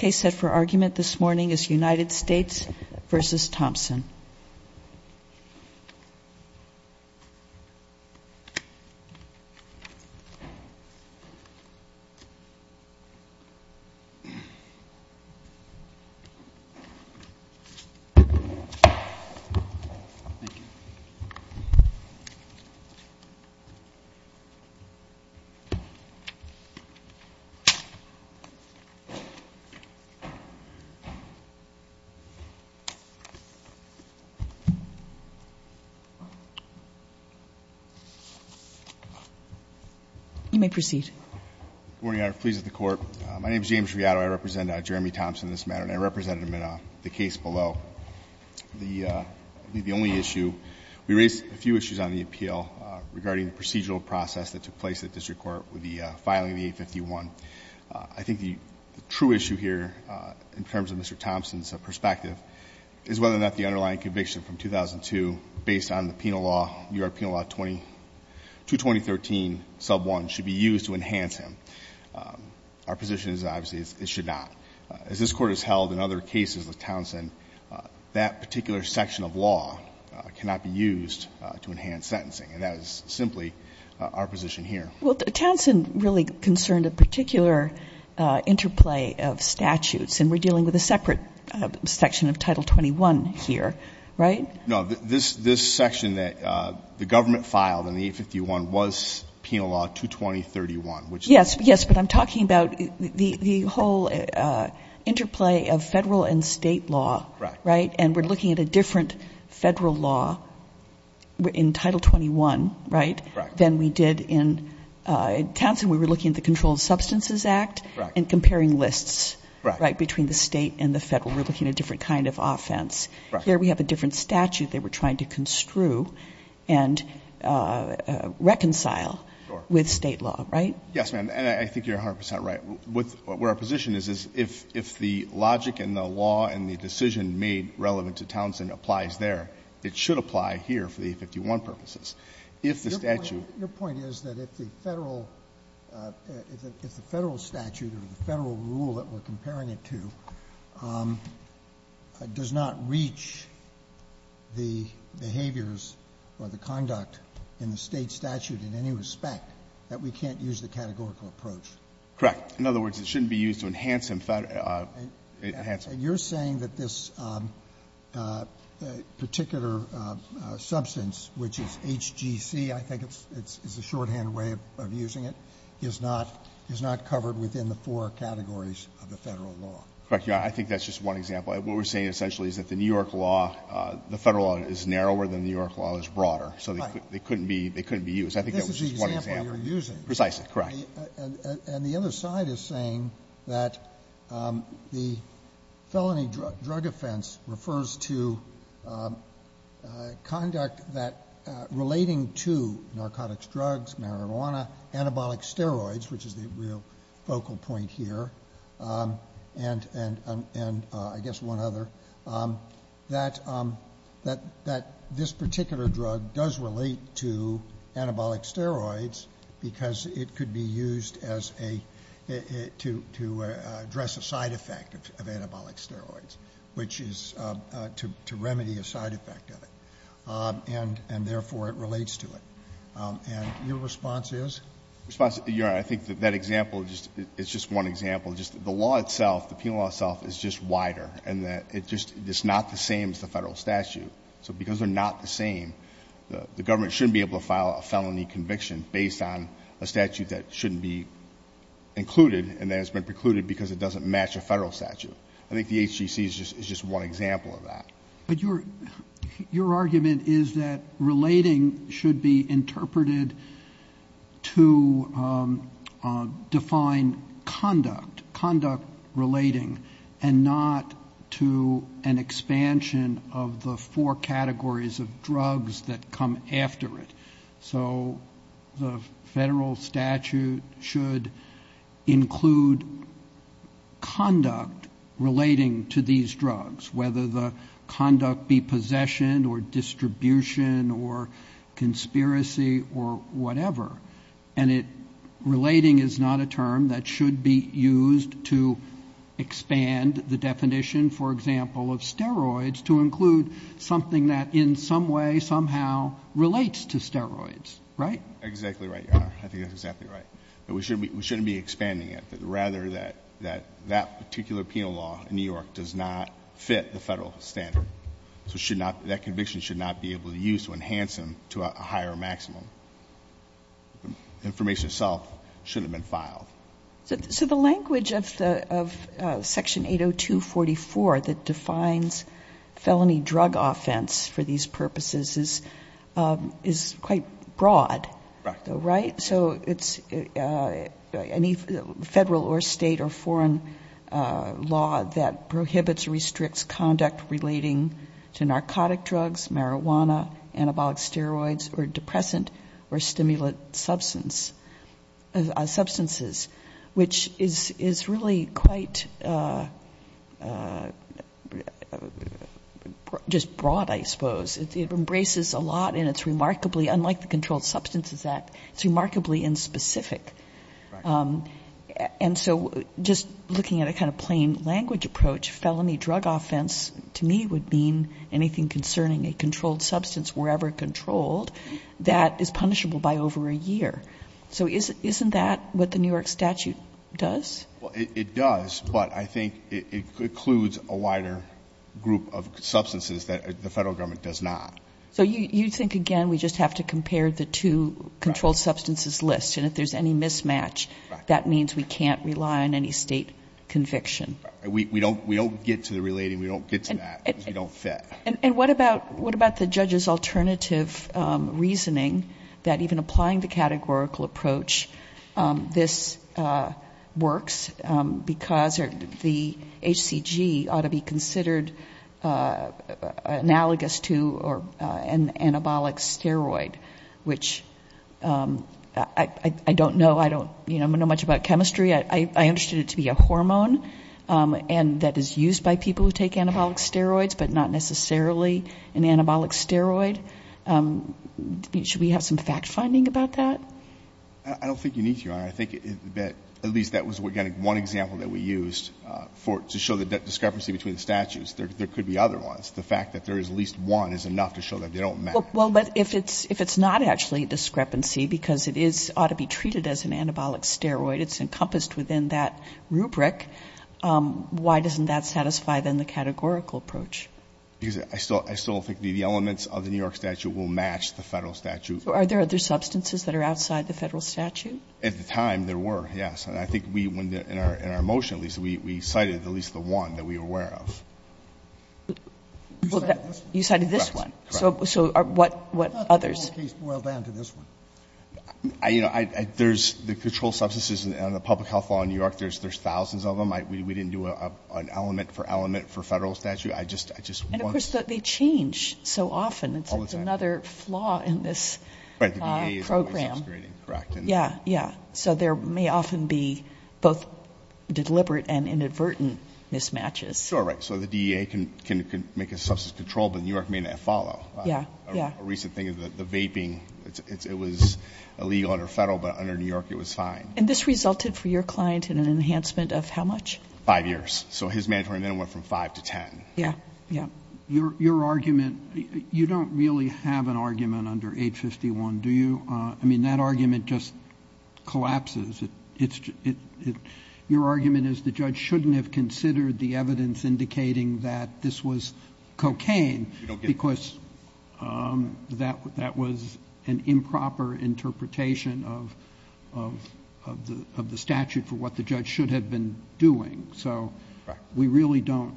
The case set for argument this morning is United States v.Thompson. You may proceed. Good morning, I am pleased at the court. My name is James Riado. I represent Jeremy Thompson in this matter and I represented him in the case below. The only issue, we raised a few issues on the appeal regarding the procedural process that took place at the district court with the filing of the 851. I think the true issue here in terms of Mr. Thompson's perspective is whether or not the underlying conviction from 2002 based on the penal law, U.S. Penal Law 22013 sub 1, should be used to enhance him. Our position is obviously it should not. As this Court has held in other cases with Thompson, that particular section of law cannot be used to enhance sentencing. And that is simply our position here. Well, Thompson really concerned a particular interplay of statutes and we're dealing with a separate section of Title 21 here, right? No, this section that the government filed in the 851 was Penal Law 22031. Yes, but I'm talking about the whole interplay of federal and state law, right? And we're looking at a different federal law in Title 21, right, than we did in Thompson. We were looking at the Controlled Substances Act and comparing lists between the state and the federal. We're looking at a different kind of offense. Here we have a different statute they were trying to construe and reconcile with state law, right? Yes, ma'am, and I think you're 100% right. What our position is, is if the logic and the law and the decision made relevant to Thompson applies there, it should apply here for the 851 purposes. If the statute — Your point is that if the federal statute or the federal rule that we're comparing it to does not reach the behaviors or the conduct in the state statute in any respect, that we can't use the categorical approach. Correct. In other words, it shouldn't be used to enhance the federal — And you're saying that this particular substance, which is HGC, I think is the shorthand way of using it, is not covered within the four categories of the federal law. Correct, Your Honor. I think that's just one example. What we're saying essentially is that the New York law, the federal law is narrower than the New York law is broader. Right. So they couldn't be used. I think that was just one example. This is the example you're using. Precisely, correct. And the other side is saying that the felony drug offense refers to conduct that relating to narcotics drugs, marijuana, anabolic steroids, which is the real focal point here, and I guess one other, that this particular drug does relate to anabolic steroids because it could be used to address a side effect of anabolic steroids, which is to remedy a side effect of it, and therefore it relates to it. And your response is? Your Honor, I think that example is just one example. The law itself, the penal law itself, is just wider, and it's not the same as the federal statute. So because they're not the same, the government shouldn't be able to file a felony conviction based on a statute that shouldn't be included and that has been precluded because it doesn't match a federal statute. I think the HGC is just one example of that. But your argument is that relating should be interpreted to define conduct, conduct relating, and not to an expansion of the four categories of drugs that come after it. So the federal statute should include conduct relating to these drugs, whether the conduct be possession or distribution or conspiracy or whatever. And relating is not a term that should be used to expand the definition, for example, of steroids to include something that in some way, somehow relates to steroids, right? Exactly right, your Honor. I think that's exactly right. We shouldn't be expanding it. Rather, that particular penal law in New York does not fit the federal standard. So that conviction should not be able to be used to enhance them to a higher maximum. The information itself shouldn't have been filed. So the language of Section 802.44 that defines felony drug offense for these purposes is quite broad, right? So it's any federal or state or foreign law that prohibits or restricts conduct relating to narcotic drugs, marijuana, anabolic steroids, or depressant or stimulant substances, which is really quite just broad, I suppose. It embraces a lot, and it's remarkably, unlike the Controlled Substances Act, it's remarkably inspecific. And so just looking at a kind of plain language approach, felony drug offense to me would mean anything concerning a controlled substance, wherever controlled, that is punishable by over a year. So isn't that what the New York statute does? Well, it does, but I think it includes a wider group of substances that the federal government does not. So you think, again, we just have to compare the two controlled substances lists, and if there's any mismatch, that means we can't rely on any state conviction. We don't get to the relating. We don't get to that because we don't fit. And what about the judge's alternative reasoning that even applying the categorical approach, this works because the HCG ought to be considered analogous to an anabolic steroid, which I don't know much about chemistry. I understood it to be a hormone, and that is used by people who take anabolic steroids, but not necessarily an anabolic steroid. Should we have some fact-finding about that? I don't think you need to, Your Honor. I think that at least that was one example that we used to show the discrepancy between the statutes. There could be other ones. The fact that there is at least one is enough to show that they don't match. Well, but if it's not actually a discrepancy because it is ought to be treated as an anabolic steroid, it's encompassed within that rubric, why doesn't that satisfy, then, the categorical approach? Because I still don't think the elements of the New York statute will match the Federal statute. Are there other substances that are outside the Federal statute? At the time, there were, yes. And I think we, in our motion at least, we cited at least the one that we were aware of. You cited this one. Correct. So what others? The whole case boiled down to this one. You know, there's the controlled substances and the public health law in New York. There's thousands of them. We didn't do an element for element for Federal statute. I just want to. And, of course, they change so often. All the time. It's another flaw in this program. Right. The DEA is always subscribing. Correct. Yeah, yeah. So there may often be both deliberate and inadvertent mismatches. Sure, right. So the DEA can make a substance control, but New York may not follow. Yeah, yeah. A recent thing is the vaping. It was illegal under Federal, but under New York, it was fine. And this resulted for your client in an enhancement of how much? Five years. So his mandatory minimum went from 5 to 10. Yeah, yeah. Your argument, you don't really have an argument under 851, do you? I mean, that argument just collapses. Your argument is the judge shouldn't have considered the evidence indicating that this was cocaine because that was an improper interpretation of the statute for what the judge should have been doing. So we really don't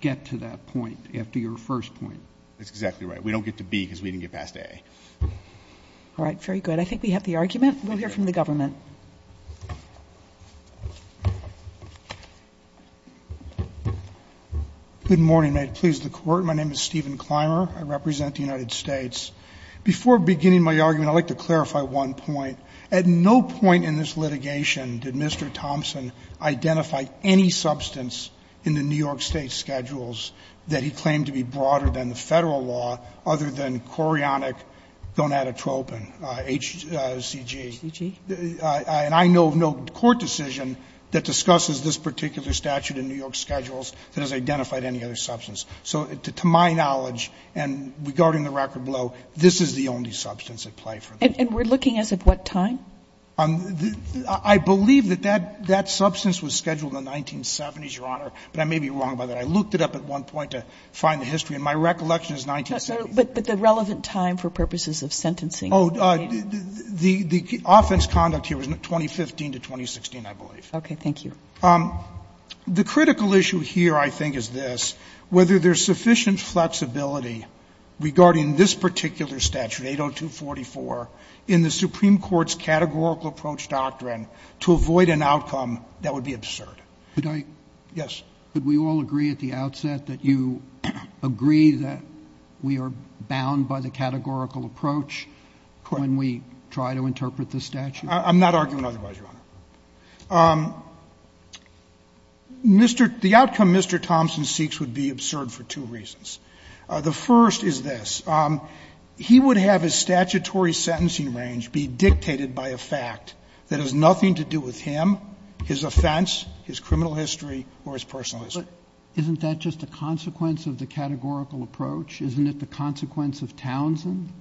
get to that point after your first point. That's exactly right. We don't get to B because we didn't get past A. All right. Very good. I think we have the argument. We'll hear from the government. Good morning. May it please the Court. My name is Stephen Clymer. I represent the United States. Before beginning my argument, I'd like to clarify one point. At no point in this litigation did Mr. Thompson identify any substance in the New York State schedules that he claimed to be broader than the Federal law other than chorionic gonadotropin, HCG. And I know of no court decision that discusses this particular statute in New York schedules that has identified any other substance. So to my knowledge, and regarding the record below, this is the only substance at play for them. And we're looking as of what time? I believe that that substance was scheduled in the 1970s, Your Honor, but I may be wrong about that. I looked it up at one point to find the history, and my recollection is 1970. But the relevant time for purposes of sentencing. Oh, the offense conduct here was 2015 to 2016, I believe. Okay. Thank you. The critical issue here, I think, is this. Whether there's sufficient flexibility regarding this particular statute, 80244, in the Supreme Court's categorical approach doctrine to avoid an outcome that would be absurd. Could I? Yes. Could we all agree at the outset that you agree that we are bound by the categorical approach when we try to interpret the statute? I'm not arguing otherwise, Your Honor. Mr. The outcome Mr. Thompson seeks would be absurd for two reasons. The first is this. He would have his statutory sentencing range be dictated by a fact that has nothing to do with him, his offense, his criminal history, or his personal history. Isn't that just a consequence of the categorical approach? Isn't it the consequence of Townsend?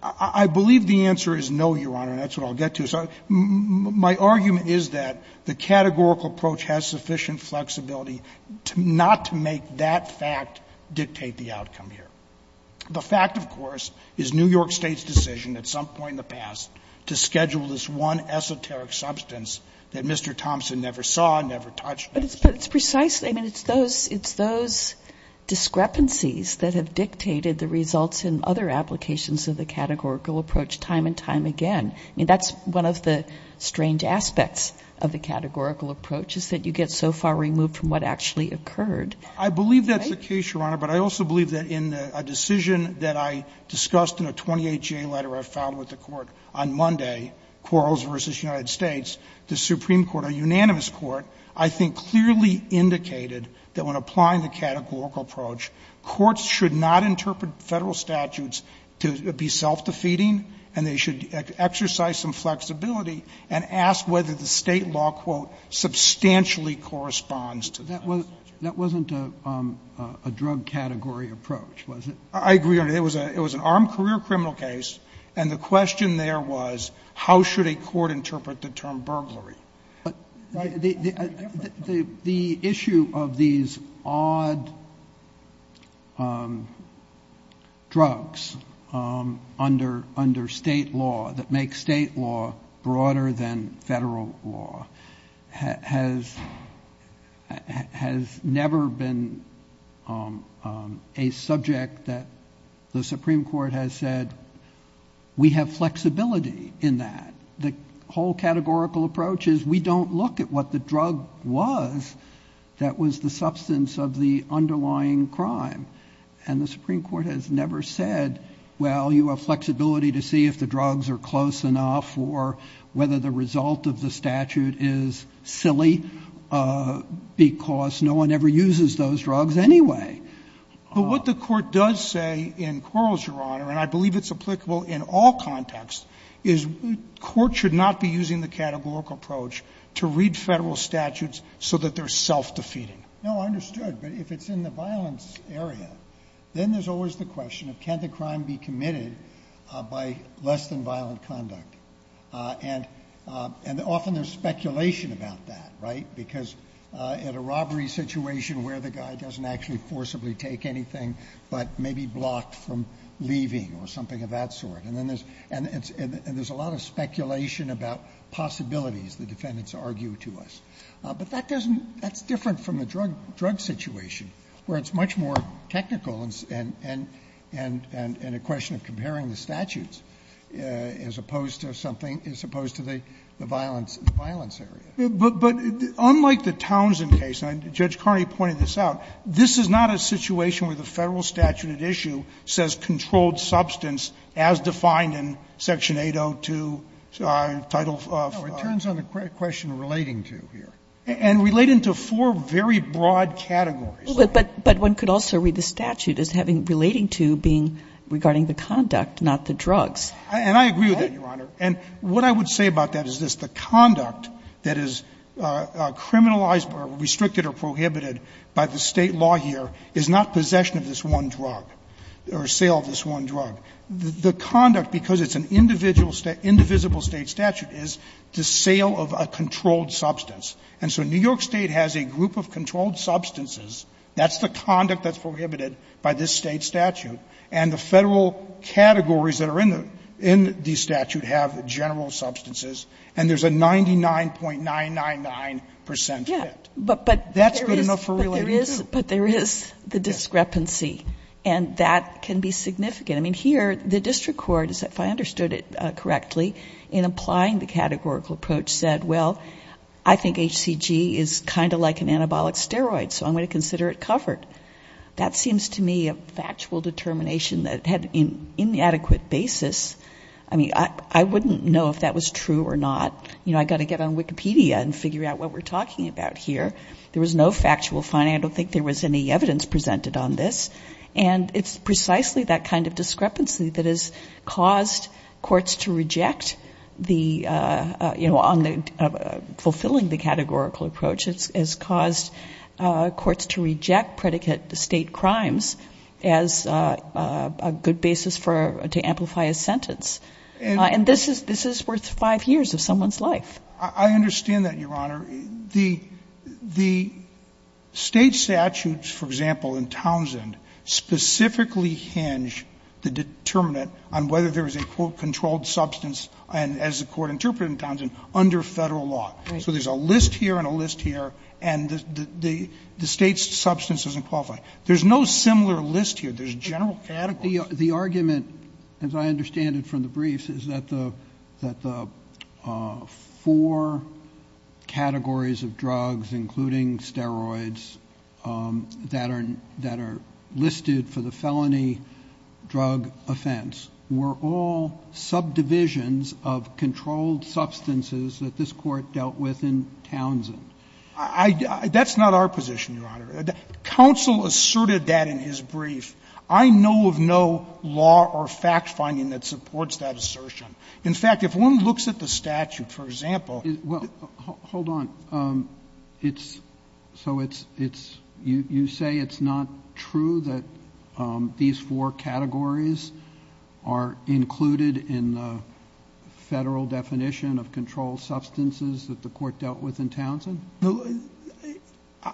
I believe the answer is no, Your Honor, and that's what I'll get to. My argument is that the categorical approach has sufficient flexibility not to make that fact dictate the outcome here. The fact, of course, is New York State's decision at some point in the past to schedule this one esoteric substance that Mr. Thompson never saw, never touched. But it's precisely those discrepancies that have dictated the results in other applications of the categorical approach time and time again. I mean, that's one of the strange aspects of the categorical approach is that you get so far removed from what actually occurred. I believe that's the case, Your Honor, but I also believe that in a decision that I discussed in a 28-J letter I filed with the Court on Monday, Quarles v. United States, the Supreme Court, a unanimous court, I think clearly indicated that when applying the categorical approach, courts should not interpret Federal statutes to be self-defeating and they should exercise some flexibility and ask whether the State law, quote, substantially corresponds to that. Roberts. That wasn't a drug category approach, was it? I agree, Your Honor. It was an armed career criminal case, and the question there was how should a court interpret the term burglary? The issue of these odd drugs under State law that make State law broader than Federal law has never been a subject that the Supreme Court has said we have flexibility in that. The whole categorical approach is we don't look at what the drug was that was the substance of the underlying crime, and the Supreme Court has never said, well, you have flexibility to see if the drugs are close enough or whether the result of the statute is silly, because no one ever uses those drugs anyway. But what the Court does say in Quarles, Your Honor, and I believe it's applicable in all contexts, is the Court should not be using the categorical approach to read Federal statutes so that they're self-defeating. No, I understood, but if it's in the violence area, then there's always the question of can the crime be committed by less than violent conduct, and often there's speculation about that, right, because at a robbery situation where the guy doesn't actually forcibly take anything but may be blocked from leaving or something of that sort. And there's a lot of speculation about possibilities the defendants argue to us. But that doesn't – that's different from the drug situation, where it's much more technical and a question of comparing the statutes as opposed to something – as opposed to the violence area. But unlike the Townsend case, and Judge Carney pointed this out, this is not a case where the Federal statute at issue says controlled substance as defined in Section 802, Title V. It turns on the question of relating to here. And relating to four very broad categories. But one could also read the statute as having – relating to being regarding the conduct, not the drugs. And I agree with that, Your Honor. And what I would say about that is this. The conduct that is criminalized or restricted or prohibited by the State law here is not possession of this one drug or sale of this one drug. The conduct, because it's an individual – indivisible State statute, is the sale of a controlled substance. And so New York State has a group of controlled substances. That's the conduct that's prohibited by this State statute. And the Federal categories that are in the statute have general substances. And there's a 99.999 percent fit. That's good enough for relating to. But there is the discrepancy. And that can be significant. I mean, here, the district court, if I understood it correctly, in applying the categorical approach said, well, I think HCG is kind of like an anabolic steroid. So I'm going to consider it covered. That seems to me a factual determination that had an inadequate basis. I mean, I wouldn't know if that was true or not. You know, I've got to get on Wikipedia and figure out what we're talking about here. There was no factual finding. I don't think there was any evidence presented on this. And it's precisely that kind of discrepancy that has caused courts to reject the – you know, on the – fulfilling the categorical approach has caused courts to reject predicate State crimes as a good basis for – to amplify a sentence. And this is worth five years of someone's life. I understand that, Your Honor. The State statutes, for example, in Townsend, specifically hinge the determinant on whether there is a, quote, controlled substance, and as the Court interpreted in Townsend, under Federal law. So there's a list here and a list here, and the State substance doesn't qualify. There's no similar list here. There's general categories. The argument, as I understand it from the briefs, is that the four categories of drugs, including steroids, that are listed for the felony drug offense were all subdivisions of controlled substances that this Court dealt with in Townsend. That's not our position, Your Honor. Counsel asserted that in his brief. I know of no law or fact-finding that supports that assertion. In fact, if one looks at the statute, for example – Robertson, well, hold on. It's – so it's – you say it's not true that these four categories are included in the Federal definition of controlled substances that the Court dealt with in Townsend?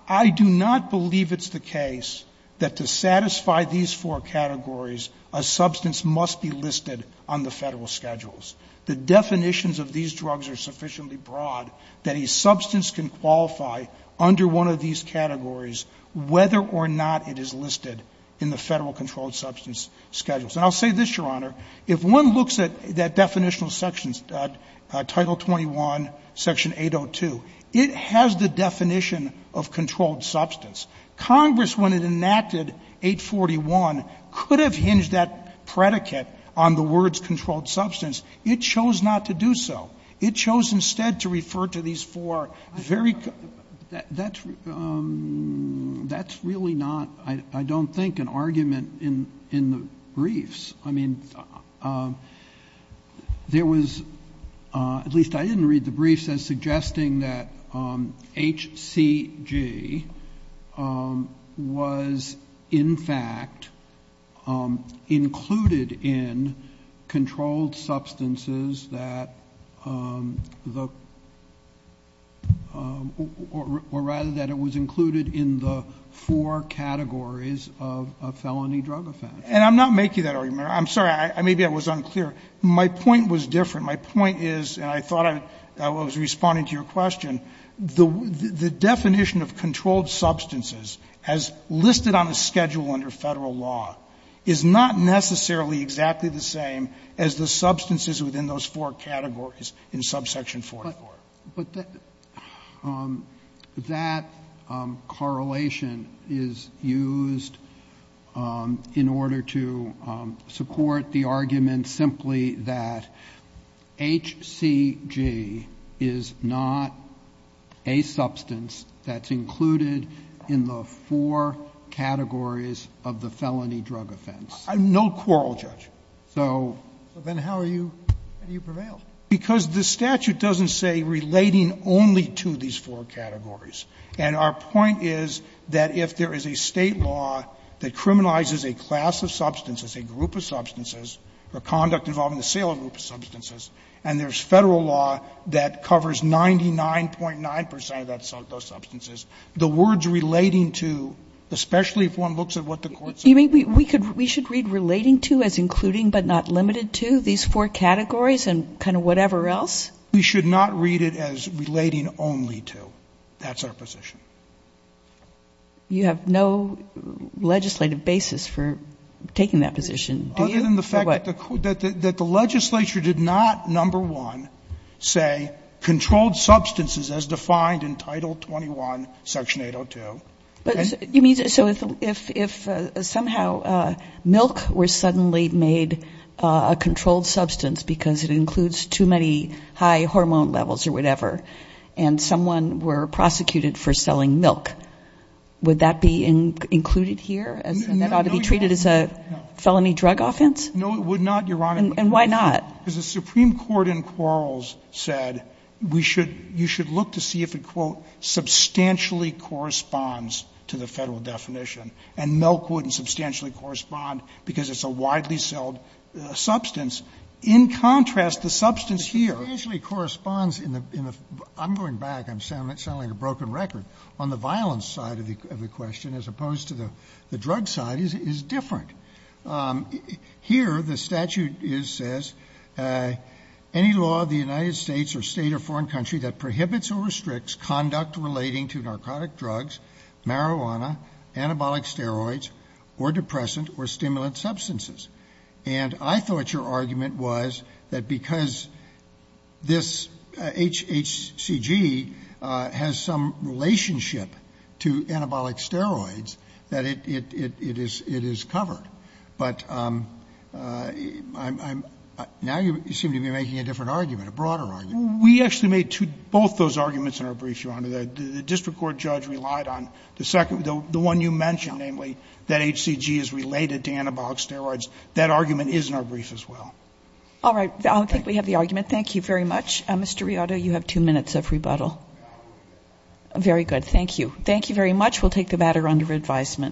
I do not believe it's the case that to satisfy these four categories, a substance must be listed on the Federal schedules. The definitions of these drugs are sufficiently broad that a substance can qualify under one of these categories whether or not it is listed in the Federal controlled substance schedules. And I'll say this, Your Honor. If one looks at that definitional section, Title 21, Section 802, it has the definition of controlled substance. Congress, when it enacted 841, could have hinged that predicate on the words controlled substance. It chose not to do so. It chose instead to refer to these four very – Robertson, that's really not, I don't think, an argument in the briefs. I mean, there was – at least I didn't read the briefs as suggesting that HCG was in fact included in controlled substances that the – or rather that it was included in the four categories of a felony drug offense. And I'm not making that argument. I'm sorry. Maybe I was unclear. My point was different. My point is, and I thought I was responding to your question, the definition of controlled substances as listed on a schedule under Federal law is not necessarily exactly the same as the substances within those four categories in subsection 44. But that correlation is used in order to support the argument simply that HCG is not a substance that's included in the four categories of the felony drug offense. No quarrel, Judge. So – So then how are you – how do you prevail? Because the statute doesn't say relating only to these four categories. And our point is that if there is a State law that criminalizes a class of substances, a group of substances, or conduct involving a sale of a group of substances, and there's Federal law that covers 99.9 percent of those substances, the words relating to, especially if one looks at what the Court said – You mean we should read relating to as including but not limited to these four categories and kind of whatever else? We should not read it as relating only to. That's our position. You have no legislative basis for taking that position, do you? Other than the fact that the – Or what? That the legislature did not, number one, say controlled substances as defined in Title 21, Section 802. But you mean – so if somehow milk were suddenly made a controlled substance because it includes too many high hormone levels or whatever, and someone were prosecuted for selling milk, would that be included here? No, no, no. And that ought to be treated as a felony drug offense? No, it would not, Your Honor. And why not? Because the Supreme Court in Quarles said we should – you should look to see if it, quote, substantially corresponds to the Federal definition. And milk wouldn't substantially correspond because it's a widely-sold substance. In contrast, the substance here – It substantially corresponds in the – I'm going back. I'm sounding like a broken record. On the violence side of the question, as opposed to the drug side, is different. Here, the statute says, any law of the United States or state or foreign country that prohibits or restricts conduct relating to narcotic drugs, marijuana, anabolic steroids, or depressant or stimulant substances. And I thought your argument was that because this HCG has some relationship to anabolic steroids, that it is covered. But I'm – now you seem to be making a different argument, a broader argument. We actually made two – both those arguments in our brief, Your Honor. The district court judge relied on the second – the one you mentioned, namely, that HCG is related to anabolic steroids. That argument is in our brief as well. All right. I don't think we have the argument. Thank you very much. Mr. Riotto, you have two minutes of rebuttal. Very good. Thank you. Thank you very much. We'll take the matter under advisement.